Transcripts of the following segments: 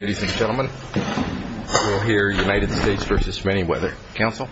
Ladies and gentlemen, we'll hear United States v. Menyweather. Counsel?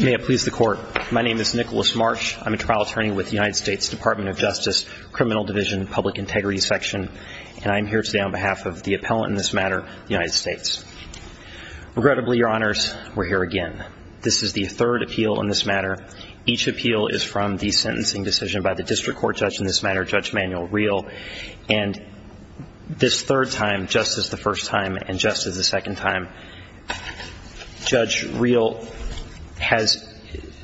May it please the Court, my name is Nicholas Marsh. I'm a trial attorney with the United States Department of Justice, Criminal Division, Public Integrity Section. And I'm here today on behalf of the appellant in this matter, the United States. Regrettably, Your Honors, we're here again. This is the third appeal in this matter. Each appeal is from the sentencing decision by the district court judge in this matter, Judge Manuel Real. And this third time, just as the first time and just as the second time, Judge Real has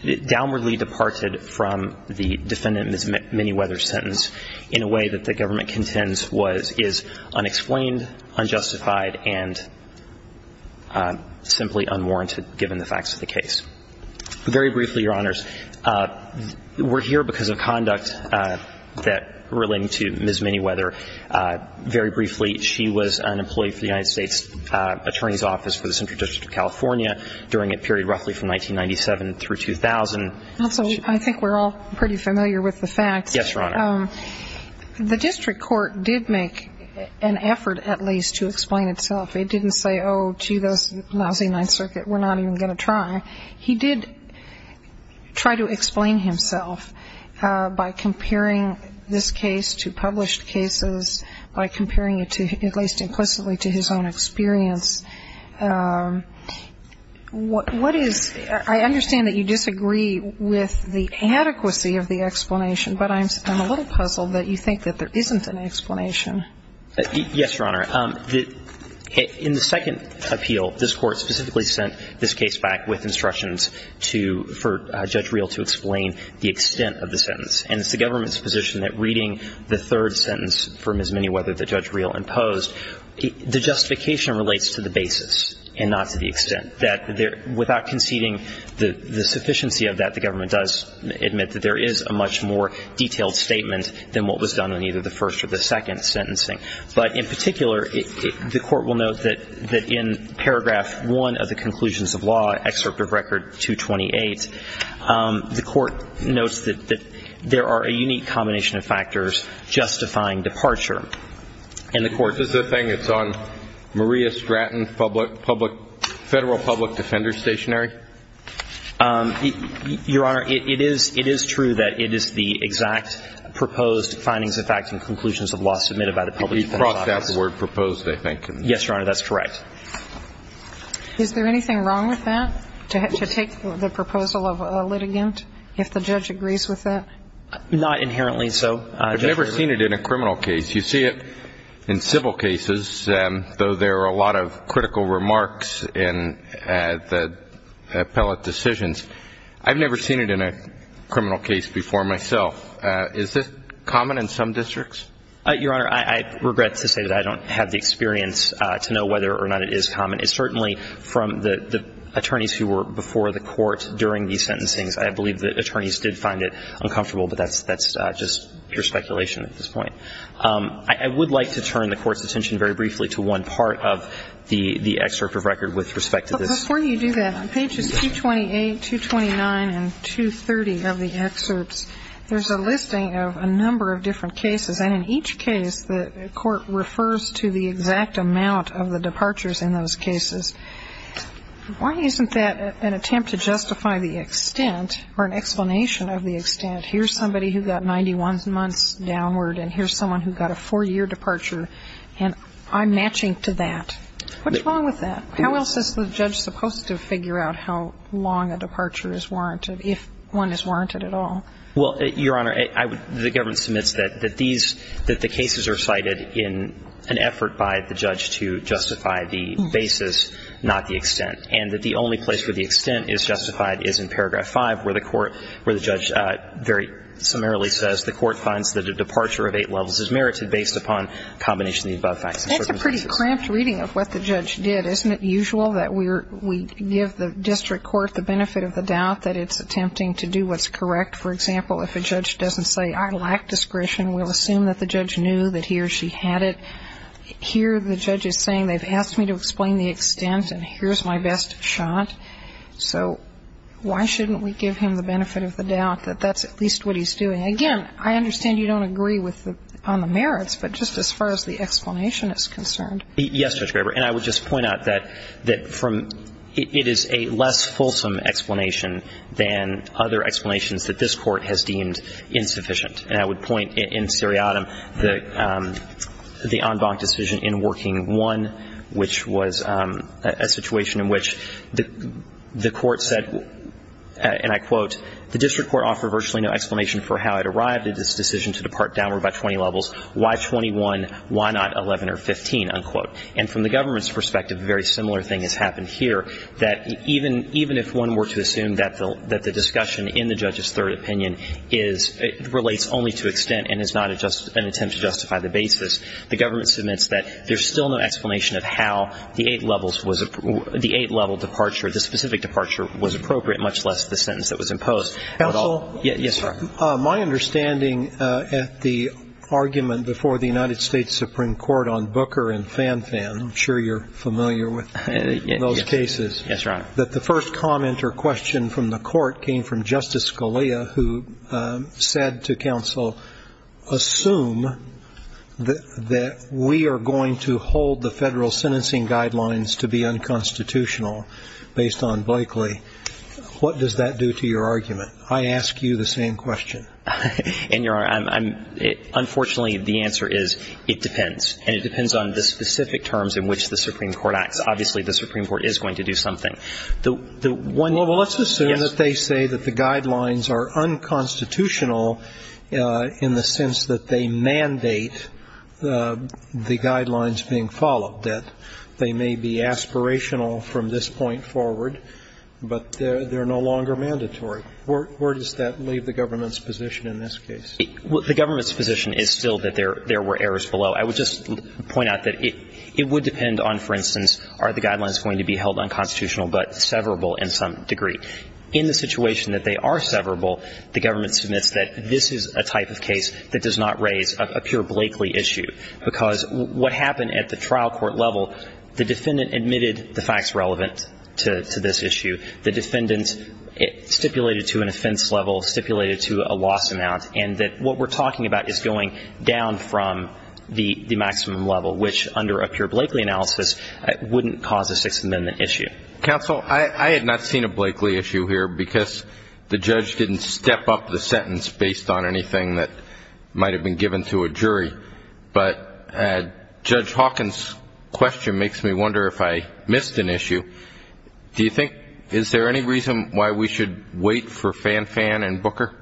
downwardly departed from the defendant Ms. Menyweather's sentence in a way that the government contends is unexplained, unjustified, and simply unwarranted, given the facts of the case. Very briefly, Your Honors, we're here because of conduct relating to Ms. Menyweather. Very briefly, she was an employee for the United States Attorney's Office for the Central District of California during a period roughly from 1997 through 2000. Also, I think we're all pretty familiar with the facts. Yes, Your Honor. The district court did make an effort, at least, to explain itself. It didn't say, oh, gee, this lousy Ninth Circuit, we're not even going to try. I understand that you disagree with the adequacy of the explanation. But I'm a little puzzled that you think that there isn't an explanation. Yes, Your Honor. In the second appeal, this Court specifically sent this case back with an explanation. And it's the government's position that reading the third sentence from Ms. Menyweather that Judge Reel imposed, the justification relates to the basis and not to the extent, that without conceding the sufficiency of that, the government does admit that there is a much more detailed statement than what was done in either the first or the second sentencing. But in particular, the Court will note that in paragraph 1 of the conclusions of law, excerpt of record 228, the Court notes that there are a unique combination of factors justifying departure. And the Court doesn't. Is the thing that's on Maria Stratton Federal Public Defender Stationery? Your Honor, it is true that it is the exact proposed findings of fact and conclusions of law submitted by the public defender's office. We brought that word proposed, I think. Yes, Your Honor, that's correct. Is there anything wrong with that, to take the proposal of a litigant if the judge agrees with that? Not inherently so. I've never seen it in a criminal case. You see it in civil cases, though there are a lot of critical remarks in the appellate decisions. I've never seen it in a criminal case before myself. Is this common in some districts? Your Honor, I regret to say that I don't have the experience to know whether or not it is common. It certainly, from the attorneys who were before the Court during these sentencings, I believe the attorneys did find it uncomfortable. But that's just pure speculation at this point. I would like to turn the Court's attention very briefly to one part of the excerpt of record with respect to this. Before you do that, on pages 228, 229, and 230 of the excerpts, there's a listing of a number of different cases. And in each case, the Court refers to the exact amount of the departures in those cases. Why isn't that an attempt to justify the extent or an explanation of the extent? Here's somebody who got 91 months downward, and here's someone who got a four-year departure, and I'm matching to that. What's wrong with that? How else is the judge supposed to figure out how long a departure is warranted, if one is warranted at all? Well, Your Honor, the government submits that these, that the cases are cited in an effort by the judge to justify the basis, not the extent, and that the only place where the extent is justified is in paragraph 5, where the court, where the judge very summarily says the court finds that a departure of eight levels is merited based upon a combination of the above facts. That's a pretty cramped reading of what the judge did. Isn't it usual that we give the district court the benefit of the doubt that it's correct? For example, if a judge doesn't say I lack discretion, we'll assume that the judge knew that he or she had it. Here the judge is saying they've asked me to explain the extent, and here's my best shot. So why shouldn't we give him the benefit of the doubt that that's at least what he's doing? Again, I understand you don't agree with the, on the merits, but just as far as the explanation is concerned. Yes, Judge Graber, and I would just point out that from, it is a less fulsome explanation than other explanations that this court has deemed insufficient. And I would point, in Siriatam, the en banc decision in Working 1, which was a situation in which the court said, and I quote, the district court offered virtually no explanation for how it arrived at this decision to depart downward by 20 levels. Why 21? Why not 11 or 15? Unquote. And from the government's perspective, a very similar thing has happened here, that even if one were to assume that the discussion in the judge's third opinion is, relates only to extent and is not an attempt to justify the basis, the government submits that there's still no explanation of how the eight levels was, the eight level departure, the specific departure was appropriate, much less the sentence that was imposed. Counsel? Yes, sir. My understanding at the argument before the United States Supreme Court on Booker and Fanfan, I'm sure you're familiar with those cases. Yes, Your Honor. That the first comment or question from the court came from Justice Scalia, who said to counsel, assume that we are going to hold the federal sentencing guidelines to be unconstitutional based on Blakely. What does that do to your argument? I ask you the same question. And, Your Honor, I'm unfortunately, the answer is, it depends. And it depends on the specific terms in which the Supreme Court acts. Obviously, the Supreme Court is going to do something. The one you say is yes. Well, let's assume that they say that the guidelines are unconstitutional in the sense that they mandate the guidelines being followed, that they may be aspirational from this point forward, but they're no longer mandatory. Where does that leave the government's position in this case? The government's position is still that there were errors below. I would just point out that it would depend on, for instance, are the guidelines going to be held unconstitutional but severable in some degree. In the situation that they are severable, the government submits that this is a type of case that does not raise a pure Blakely issue, because what happened at the trial court level, the defendant admitted the facts relevant to this issue. The defendant stipulated to an offense level, stipulated to a loss amount, and that what we're talking about is going down from the maximum level, which under a pure Blakely analysis wouldn't cause a Sixth Amendment issue. Counsel, I had not seen a Blakely issue here because the judge didn't step up the sentence based on anything that might have been given to a jury. But Judge Hawkins' question makes me wonder if I missed an issue. Do you think, is there any reason why we should wait for Fan-Fan and Booker?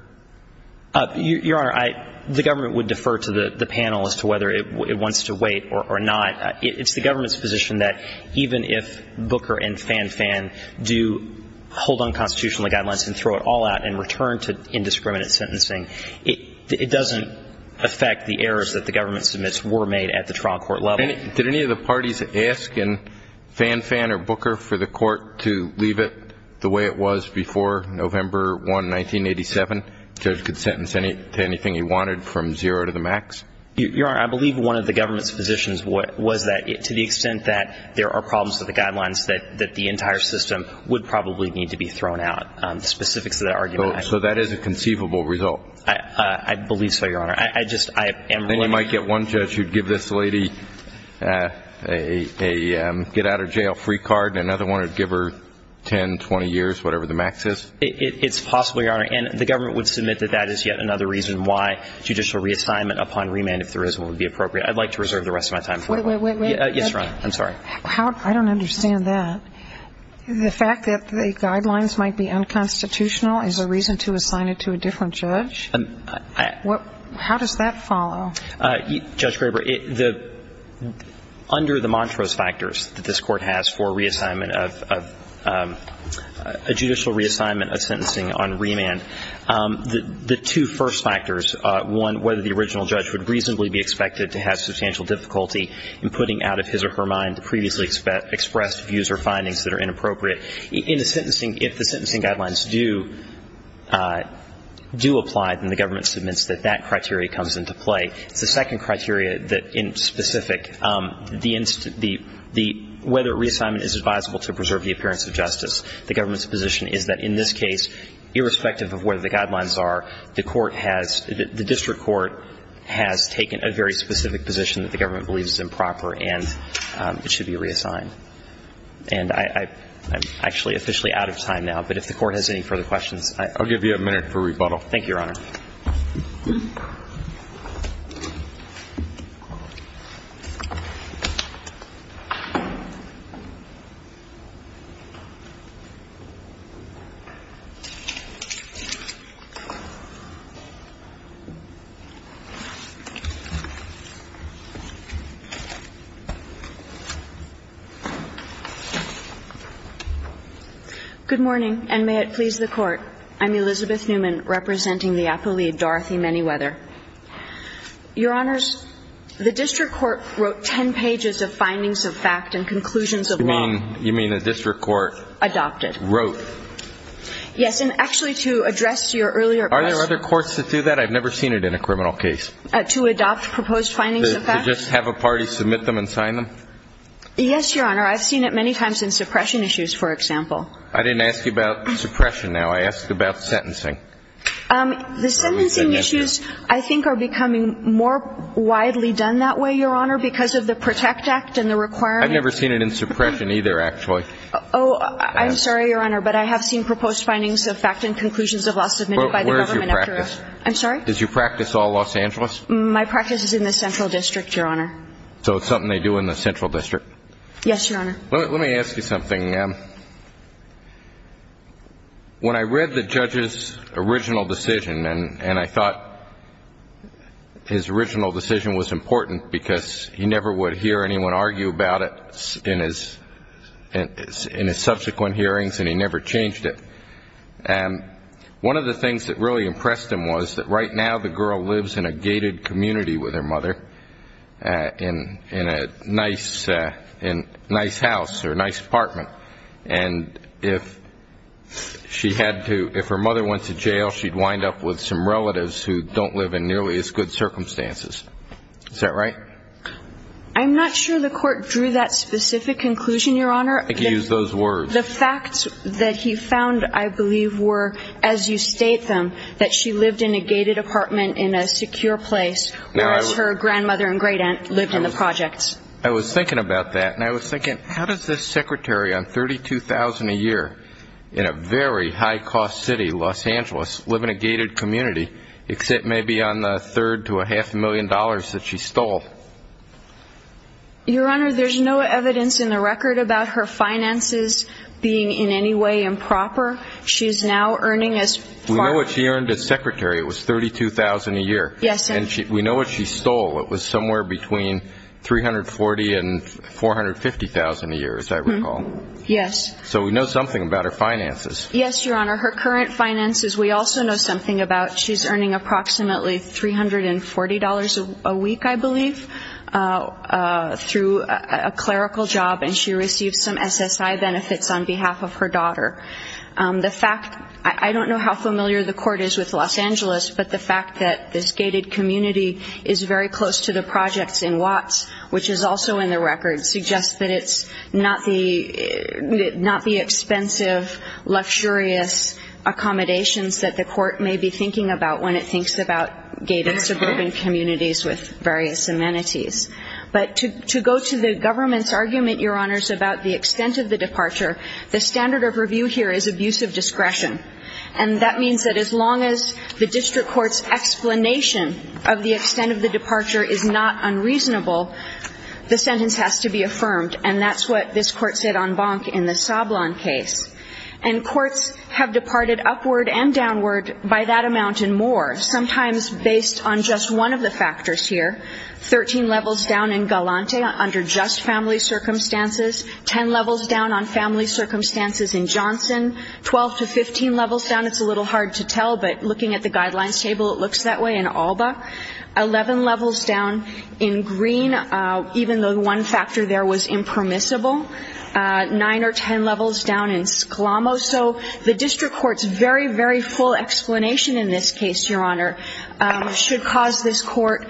Your Honor, the government would defer to the panel as to whether it wants to wait or not. It's the government's position that even if Booker and Fan-Fan do hold unconstitutional guidelines and throw it all out and return to indiscriminate sentencing, it doesn't affect the errors that the government submits were made at the trial court level. Did any of the parties ask Fan-Fan or Booker for the court to leave it the way it was before November 1, 1987? The judge could sentence to anything he wanted from zero to the max? Your Honor, I believe one of the government's positions was that to the extent that there are problems with the guidelines, that the entire system would probably need to be thrown out. The specifics of that argument I don't know. So that is a conceivable result? I believe so, Your Honor. And you might get one judge who would give this lady a get-out-of-jail-free card and another one would give her 10, 20 years, whatever the max is? It's possible, Your Honor. And the government would submit that that is yet another reason why judicial reassignment upon remand, if there is one, would be appropriate. I'd like to reserve the rest of my time. Wait, wait, wait. Yes, Your Honor. I'm sorry. I don't understand that. The fact that the guidelines might be unconstitutional is a reason to assign it to a different judge? How does that follow? Judge Graber, under the Montrose factors that this Court has for reassignment of a judicial reassignment of sentencing on remand, the two first factors, one, whether the original judge would reasonably be expected to have substantial difficulty in putting out of his or her mind the previously expressed views or findings that are that criteria comes into play. It's the second criteria that in specific, the whether reassignment is advisable to preserve the appearance of justice. The government's position is that in this case, irrespective of where the guidelines are, the court has, the district court has taken a very specific position that the government believes is improper and it should be reassigned. And I'm actually officially out of time now, but if the Court has any further questions, I'll give you a minute for rebuttal. Thank you, Your Honor. Good morning, and may it please the Court. I'm Elizabeth Newman, representing the appellee, Dorothy Manyweather. Your Honors, the district court wrote ten pages of findings of fact and conclusions of law. You mean the district court? Adopted. Wrote. Yes, and actually to address your earlier question. Are there other courts that do that? I've never seen it in a criminal case. To adopt proposed findings of fact? To just have a party submit them and sign them? Yes, Your Honor. I've seen it many times in suppression issues, for example. I didn't ask you about suppression now. I asked about sentencing. The sentencing issues, I think, are becoming more widely done that way, Your Honor, because of the Protect Act and the requirement. I've never seen it in suppression either, actually. Oh, I'm sorry, Your Honor, but I have seen proposed findings of fact and conclusions of law submitted by the government. Where is your practice? I'm sorry? Is your practice all Los Angeles? My practice is in the Central District, Your Honor. So it's something they do in the Central District? Yes, Your Honor. Let me ask you something. When I read the judge's original decision, and I thought his original decision was important because he never would hear anyone argue about it in his subsequent hearings, and he never changed it. One of the things that really impressed him was that right now the girl lives in a gated community with her mother in a nice house or a nice apartment, and if her mother went to jail she'd wind up with some relatives who don't live in nearly as good circumstances. Is that right? I'm not sure the court drew that specific conclusion, Your Honor. I think you used those words. The facts that he found, I believe, were, as you state them, that she lived in a gated apartment in a secure place. Whereas her grandmother and great-aunt lived in the projects. I was thinking about that, and I was thinking, how does this secretary on $32,000 a year in a very high-cost city, Los Angeles, live in a gated community except maybe on the third to a half a million dollars that she stole? Your Honor, there's no evidence in the record about her finances being in any way improper. She's now earning as far as we know. We know what she earned as secretary. It was $32,000 a year. Yes. And we know what she stole. It was somewhere between $340,000 and $450,000 a year, as I recall. Yes. So we know something about her finances. Yes, Your Honor. Her current finances, we also know something about. She's earning approximately $340 a week, I believe, through a clerical job, and she received some SSI benefits on behalf of her daughter. I don't know how familiar the Court is with Los Angeles, but the fact that this gated community is very close to the projects in Watts, which is also in the record, suggests that it's not the expensive, luxurious accommodations that the Court may be thinking about when it thinks about gated suburban communities with various amenities. But to go to the government's argument, Your Honors, about the extent of the departure, the standard of review here is abuse of discretion, and that means that as long as the district court's explanation of the extent of the departure is not unreasonable, the sentence has to be affirmed, and that's what this Court said on Bonk in the Sablon case. And courts have departed upward and downward by that amount and more, sometimes based on just one of the factors here, 13 levels down in Galante under just family circumstances, 10 levels down on family circumstances in Johnson, 12 to 15 levels down, it's a little hard to tell, but looking at the guidelines table, it looks that way, in Alba, 11 levels down in Green, even though one factor there was impermissible, 9 or 10 levels down in Sclamo. So the district court's very, very full explanation in this case, Your Honor, should cause this Court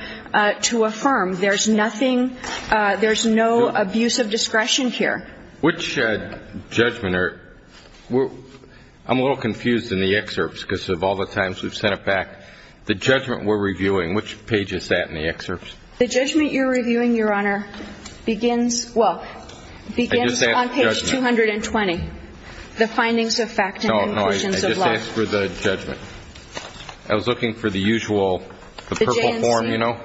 to affirm there's nothing, there's no abuse of discretion here. Which judgment? I'm a little confused in the excerpts because of all the times we've sent it back. The judgment we're reviewing, which page is that in the excerpts? The judgment you're reviewing, Your Honor, begins, well, begins on page 220, the findings of fact and conclusions of lie. No, no, I just asked for the judgment. I was looking for the usual, the purple form, you know.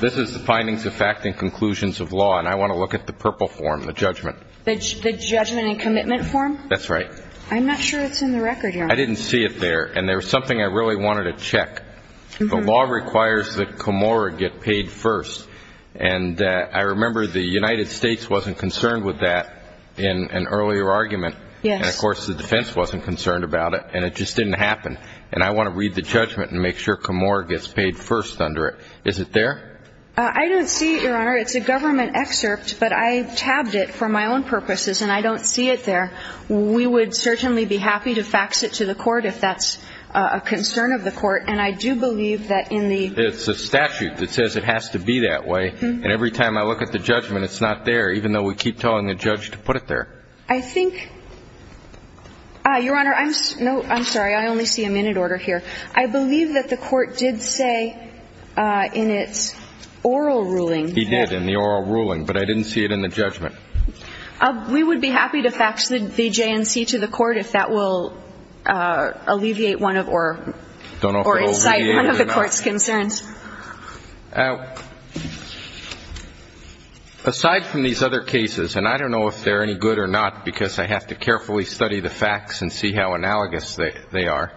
This is the findings of fact and conclusions of law, and I want to look at the purple form, the judgment. The judgment and commitment form? That's right. I'm not sure it's in the record, Your Honor. I didn't see it there, and there was something I really wanted to check. The law requires that Comora get paid first, and I remember the United States wasn't concerned with that in an earlier argument. Yes. And, of course, the defense wasn't concerned about it, and it just didn't happen. And I want to read the judgment and make sure Comora gets paid first under it. Is it there? I don't see it, Your Honor. It's a government excerpt, but I tabbed it for my own purposes, and I don't see it there. We would certainly be happy to fax it to the court if that's a concern of the court, and I do believe that in the ---- It's a statute that says it has to be that way, and every time I look at the judgment it's not there, even though we keep telling the judge to put it there. I think ---- Your Honor, I'm sorry. I only see a minute order here. I believe that the court did say in its oral ruling that ---- He did in the oral ruling, but I didn't see it in the judgment. We would be happy to fax the J&C to the court if that will alleviate one of or incite one of the court's concerns. I don't know if it will alleviate it or not. Aside from these other cases, and I don't know if they're any good or not because I have to carefully study the facts and see how analogous they are,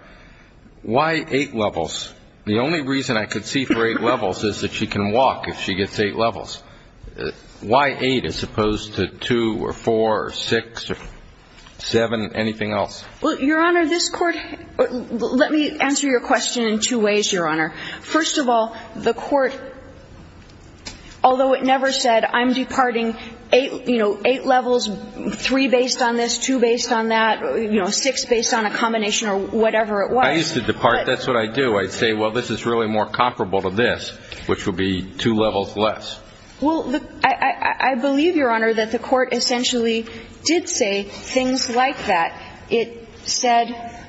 why 8 levels? The only reason I could see for 8 levels is that she can walk if she gets 8 levels. Why 8 as opposed to 2 or 4 or 6 or 7, anything else? Well, Your Honor, this Court ---- let me answer your question in two ways, Your Honor. First of all, the court, although it never said I'm departing 8 levels, 3 based on this, 2 based on that, 6 based on a combination or whatever it was. I used to depart. That's what I do. I'd say, well, this is really more comparable to this, which would be 2 levels less. Well, I believe, Your Honor, that the court essentially did say things like that. It said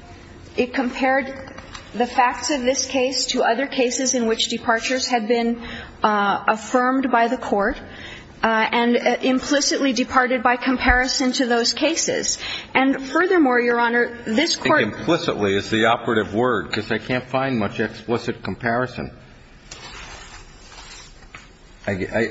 it compared the facts of this case to other cases in which departures had been affirmed by the court and implicitly departed by comparison to those cases. And furthermore, Your Honor, this Court ---- I think implicitly is the operative word because I can't find much explicit comparison.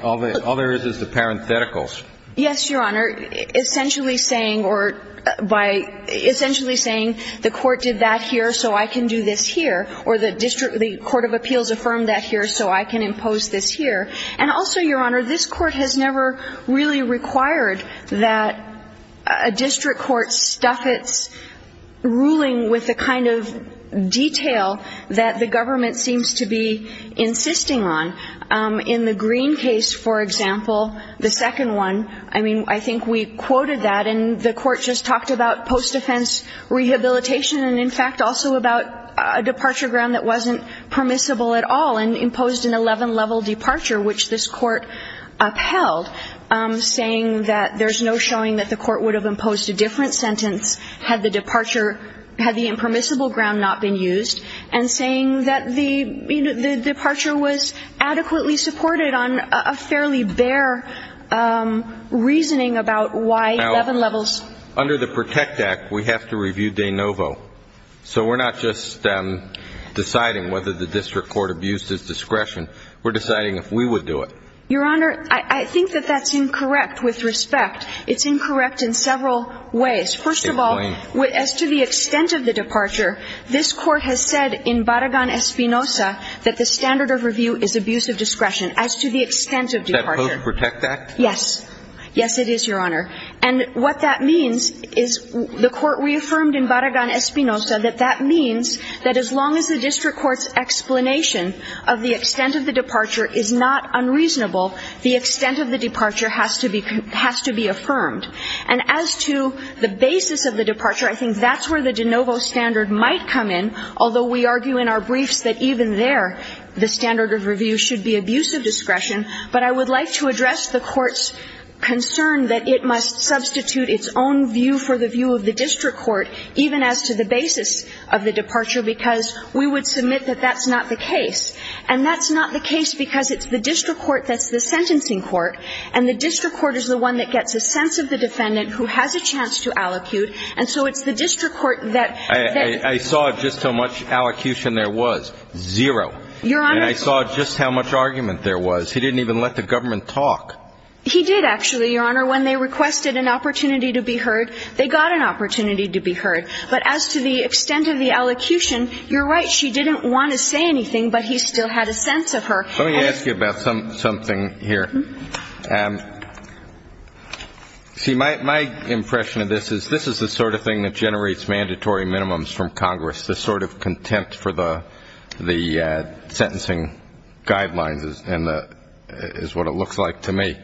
All there is is the parentheticals. Yes, Your Honor, essentially saying or by ---- essentially saying the court did that here so I can do this here or the district ---- the court of appeals affirmed that here so I can impose this here. And also, Your Honor, this Court has never really required that a district court stuff its ruling with the kind of detail that the government seems to be insisting on. In the Green case, for example, the second one, I mean, I think we quoted that. And the court just talked about post-defense rehabilitation and, in fact, also about a departure ground that wasn't permissible at all and imposed an 11-level departure, which this court upheld, saying that there's no showing that the court would have imposed a different sentence had the departure ---- And saying that the departure was adequately supported on a fairly bare reasoning about why 11 levels ---- Now, under the PROTECT Act, we have to review de novo. So we're not just deciding whether the district court abused its discretion. We're deciding if we would do it. Your Honor, I think that that's incorrect with respect. It's incorrect in several ways. First of all, as to the extent of the departure, this Court has said in Barragan-Espinosa that the standard of review is abuse of discretion as to the extent of departure. Is that post-PROTECT Act? Yes. Yes, it is, Your Honor. And what that means is the Court reaffirmed in Barragan-Espinosa that that means that as long as the district court's explanation of the extent of the departure is not unreasonable, the extent of the departure has to be affirmed. And as to the basis of the departure, I think that's where the de novo standard might come in, although we argue in our briefs that even there the standard of review should be abuse of discretion. But I would like to address the Court's concern that it must substitute its own view for the view of the district court, even as to the basis of the departure, because we would submit that that's not the case. And that's not the case because it's the district court that's the sentencing court, and the district court is the one that gets a sense of the defendant who has a chance to allocute. And so it's the district court that they're going to be able to do that. I saw just how much allocution there was. Zero. Your Honor. And I saw just how much argument there was. He didn't even let the government talk. He did, actually, Your Honor. When they requested an opportunity to be heard, they got an opportunity to be heard. But as to the extent of the allocution, you're right. She didn't want to say anything, but he still had a sense of her. Let me ask you about something here. See, my impression of this is this is the sort of thing that generates mandatory minimums from Congress, the sort of contempt for the sentencing guidelines is what it looks like to me.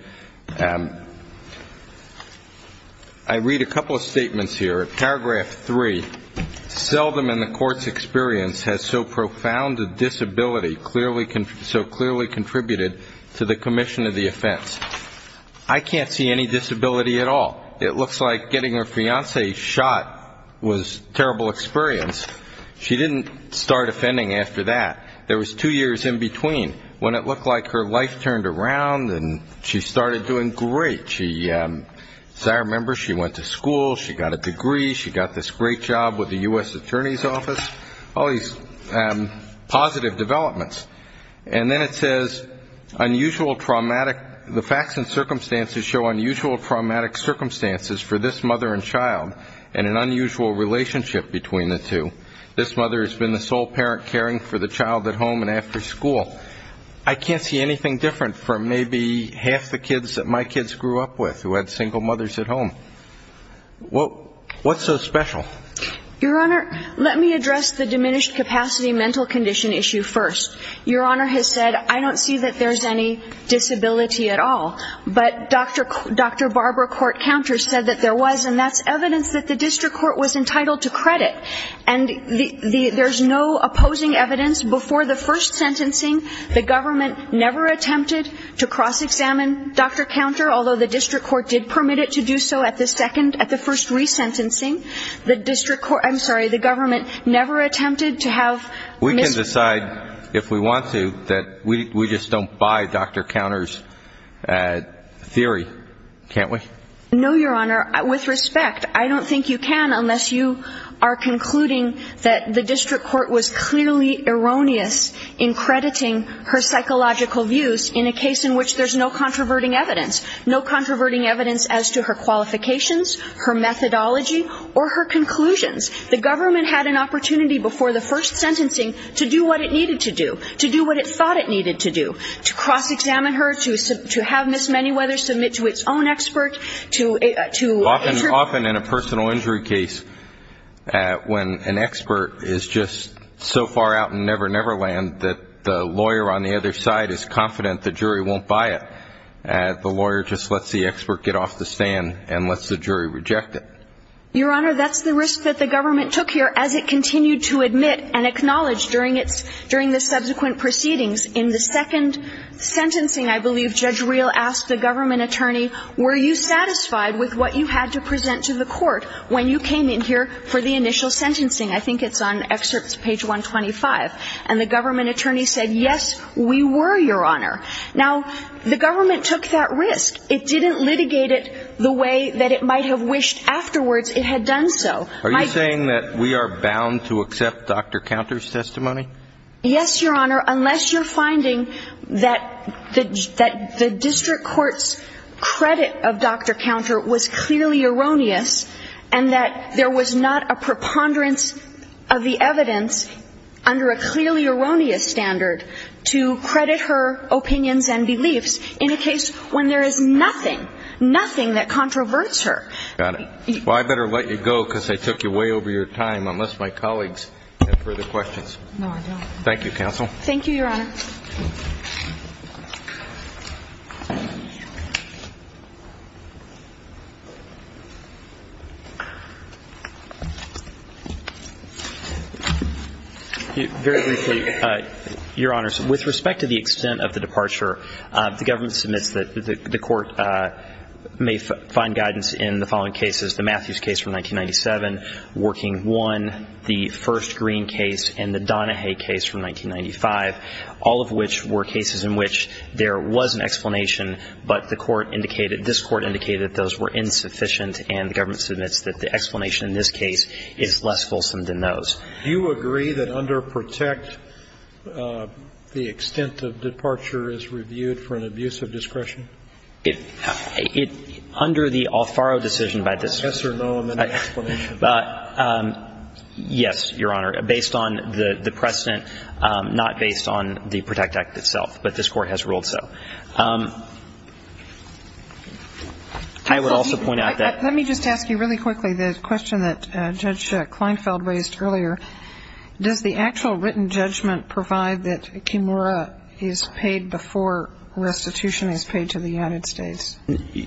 I read a couple of statements here. Paragraph 3, seldom in the court's experience has so profound a disability so clearly contributed to the commission of the offense. I can't see any disability at all. It looks like getting her fiancé shot was a terrible experience. She didn't start offending after that. There was two years in between when it looked like her life turned around and she started doing great. As I remember, she went to school. She got a degree. She got this great job with the U.S. Attorney's Office. All these positive developments. And then it says, the facts and circumstances show unusual traumatic circumstances for this mother and child and an unusual relationship between the two. This mother has been the sole parent caring for the child at home and after school. I can't see anything different from maybe half the kids that my kids grew up with who had single mothers at home. What's so special? Your Honor, let me address the diminished capacity mental condition issue first. Your Honor has said, I don't see that there's any disability at all. But Dr. Barbara Court Counter said that there was, and that's evidence that the district court was entitled to credit. And there's no opposing evidence. Before the first sentencing, the government never attempted to cross-examine Dr. Counter, although the district court did permit it to do so at the second, at the first resentencing. The district court, I'm sorry, the government never attempted to have. We can decide if we want to that we just don't buy Dr. Counter's theory, can't we? No, Your Honor. With respect, I don't think you can unless you are concluding that the district court was clearly erroneous in crediting her psychological views in a case in which there's no controverting evidence, no controverting evidence as to her qualifications, her methodology, or her conclusions. The government had an opportunity before the first sentencing to do what it needed to do, to do what it thought it needed to do, to cross-examine her, to have Ms. Manyweather submit to its own expert, Often in a personal injury case, when an expert is just so far out in Never Never Land that the lawyer on the other side is confident the jury won't buy it, the lawyer just lets the expert get off the stand and lets the jury reject it. Your Honor, that's the risk that the government took here as it continued to admit and acknowledge during the subsequent proceedings. In the second sentencing, I believe Judge Reel asked the government attorney, were you satisfied with what you had to present to the court when you came in here for the initial sentencing? I think it's on excerpts page 125. And the government attorney said, yes, we were, Your Honor. Now, the government took that risk. It didn't litigate it the way that it might have wished afterwards. It had done so. Are you saying that we are bound to accept Dr. Counter's testimony? Yes, Your Honor, unless you're finding that the district court's credit of Dr. Counter was clearly erroneous and that there was not a preponderance of the evidence under a clearly erroneous standard to credit her opinions and beliefs in a case when there is nothing, nothing that controverts her. Got it. Well, I better let you go because I took you way over your time, unless my colleagues have further questions. No, I don't. Thank you, counsel. Thank you, Your Honor. Very briefly, Your Honors, with respect to the extent of the departure, the government submits that the court may find guidance in the following cases, the Matthews case from 1997, Working I, the first Green case, and the Donahue case from 1995, all of which were cases in which there was an explanation, but the court indicated this court indicated those were insufficient, and the government submits that the explanation in this case is less fulsome than those. Do you agree that under Protect, the extent of departure is reviewed for an abuse of discretion? Yes, Your Honor, based on the precedent, not based on the Protect Act itself, but this court has ruled so. I would also point out that ---- Let me just ask you really quickly the question that Judge Kleinfeld raised earlier. Does the actual written judgment provide that Kimura is paid before restitution is paid to the United States?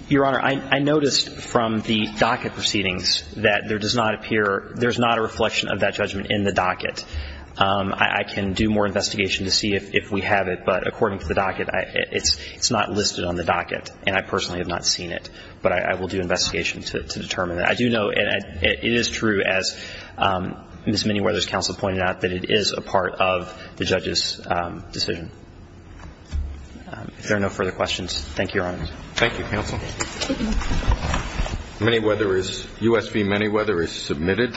Your Honor, I noticed from the docket proceedings that there does not appear ---- there's not a reflection of that judgment in the docket. I can do more investigation to see if we have it, but according to the docket, it's not listed on the docket, and I personally have not seen it, but I will do investigation to determine that. I do know it is true, as Ms. Minnie Weathers' counsel pointed out, that it is a part of the judge's decision. If there are no further questions, thank you, Your Honor. Thank you, counsel. Minnie Weathers, U.S. v. Minnie Weathers, is submitted.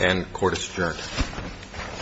And court is adjourned.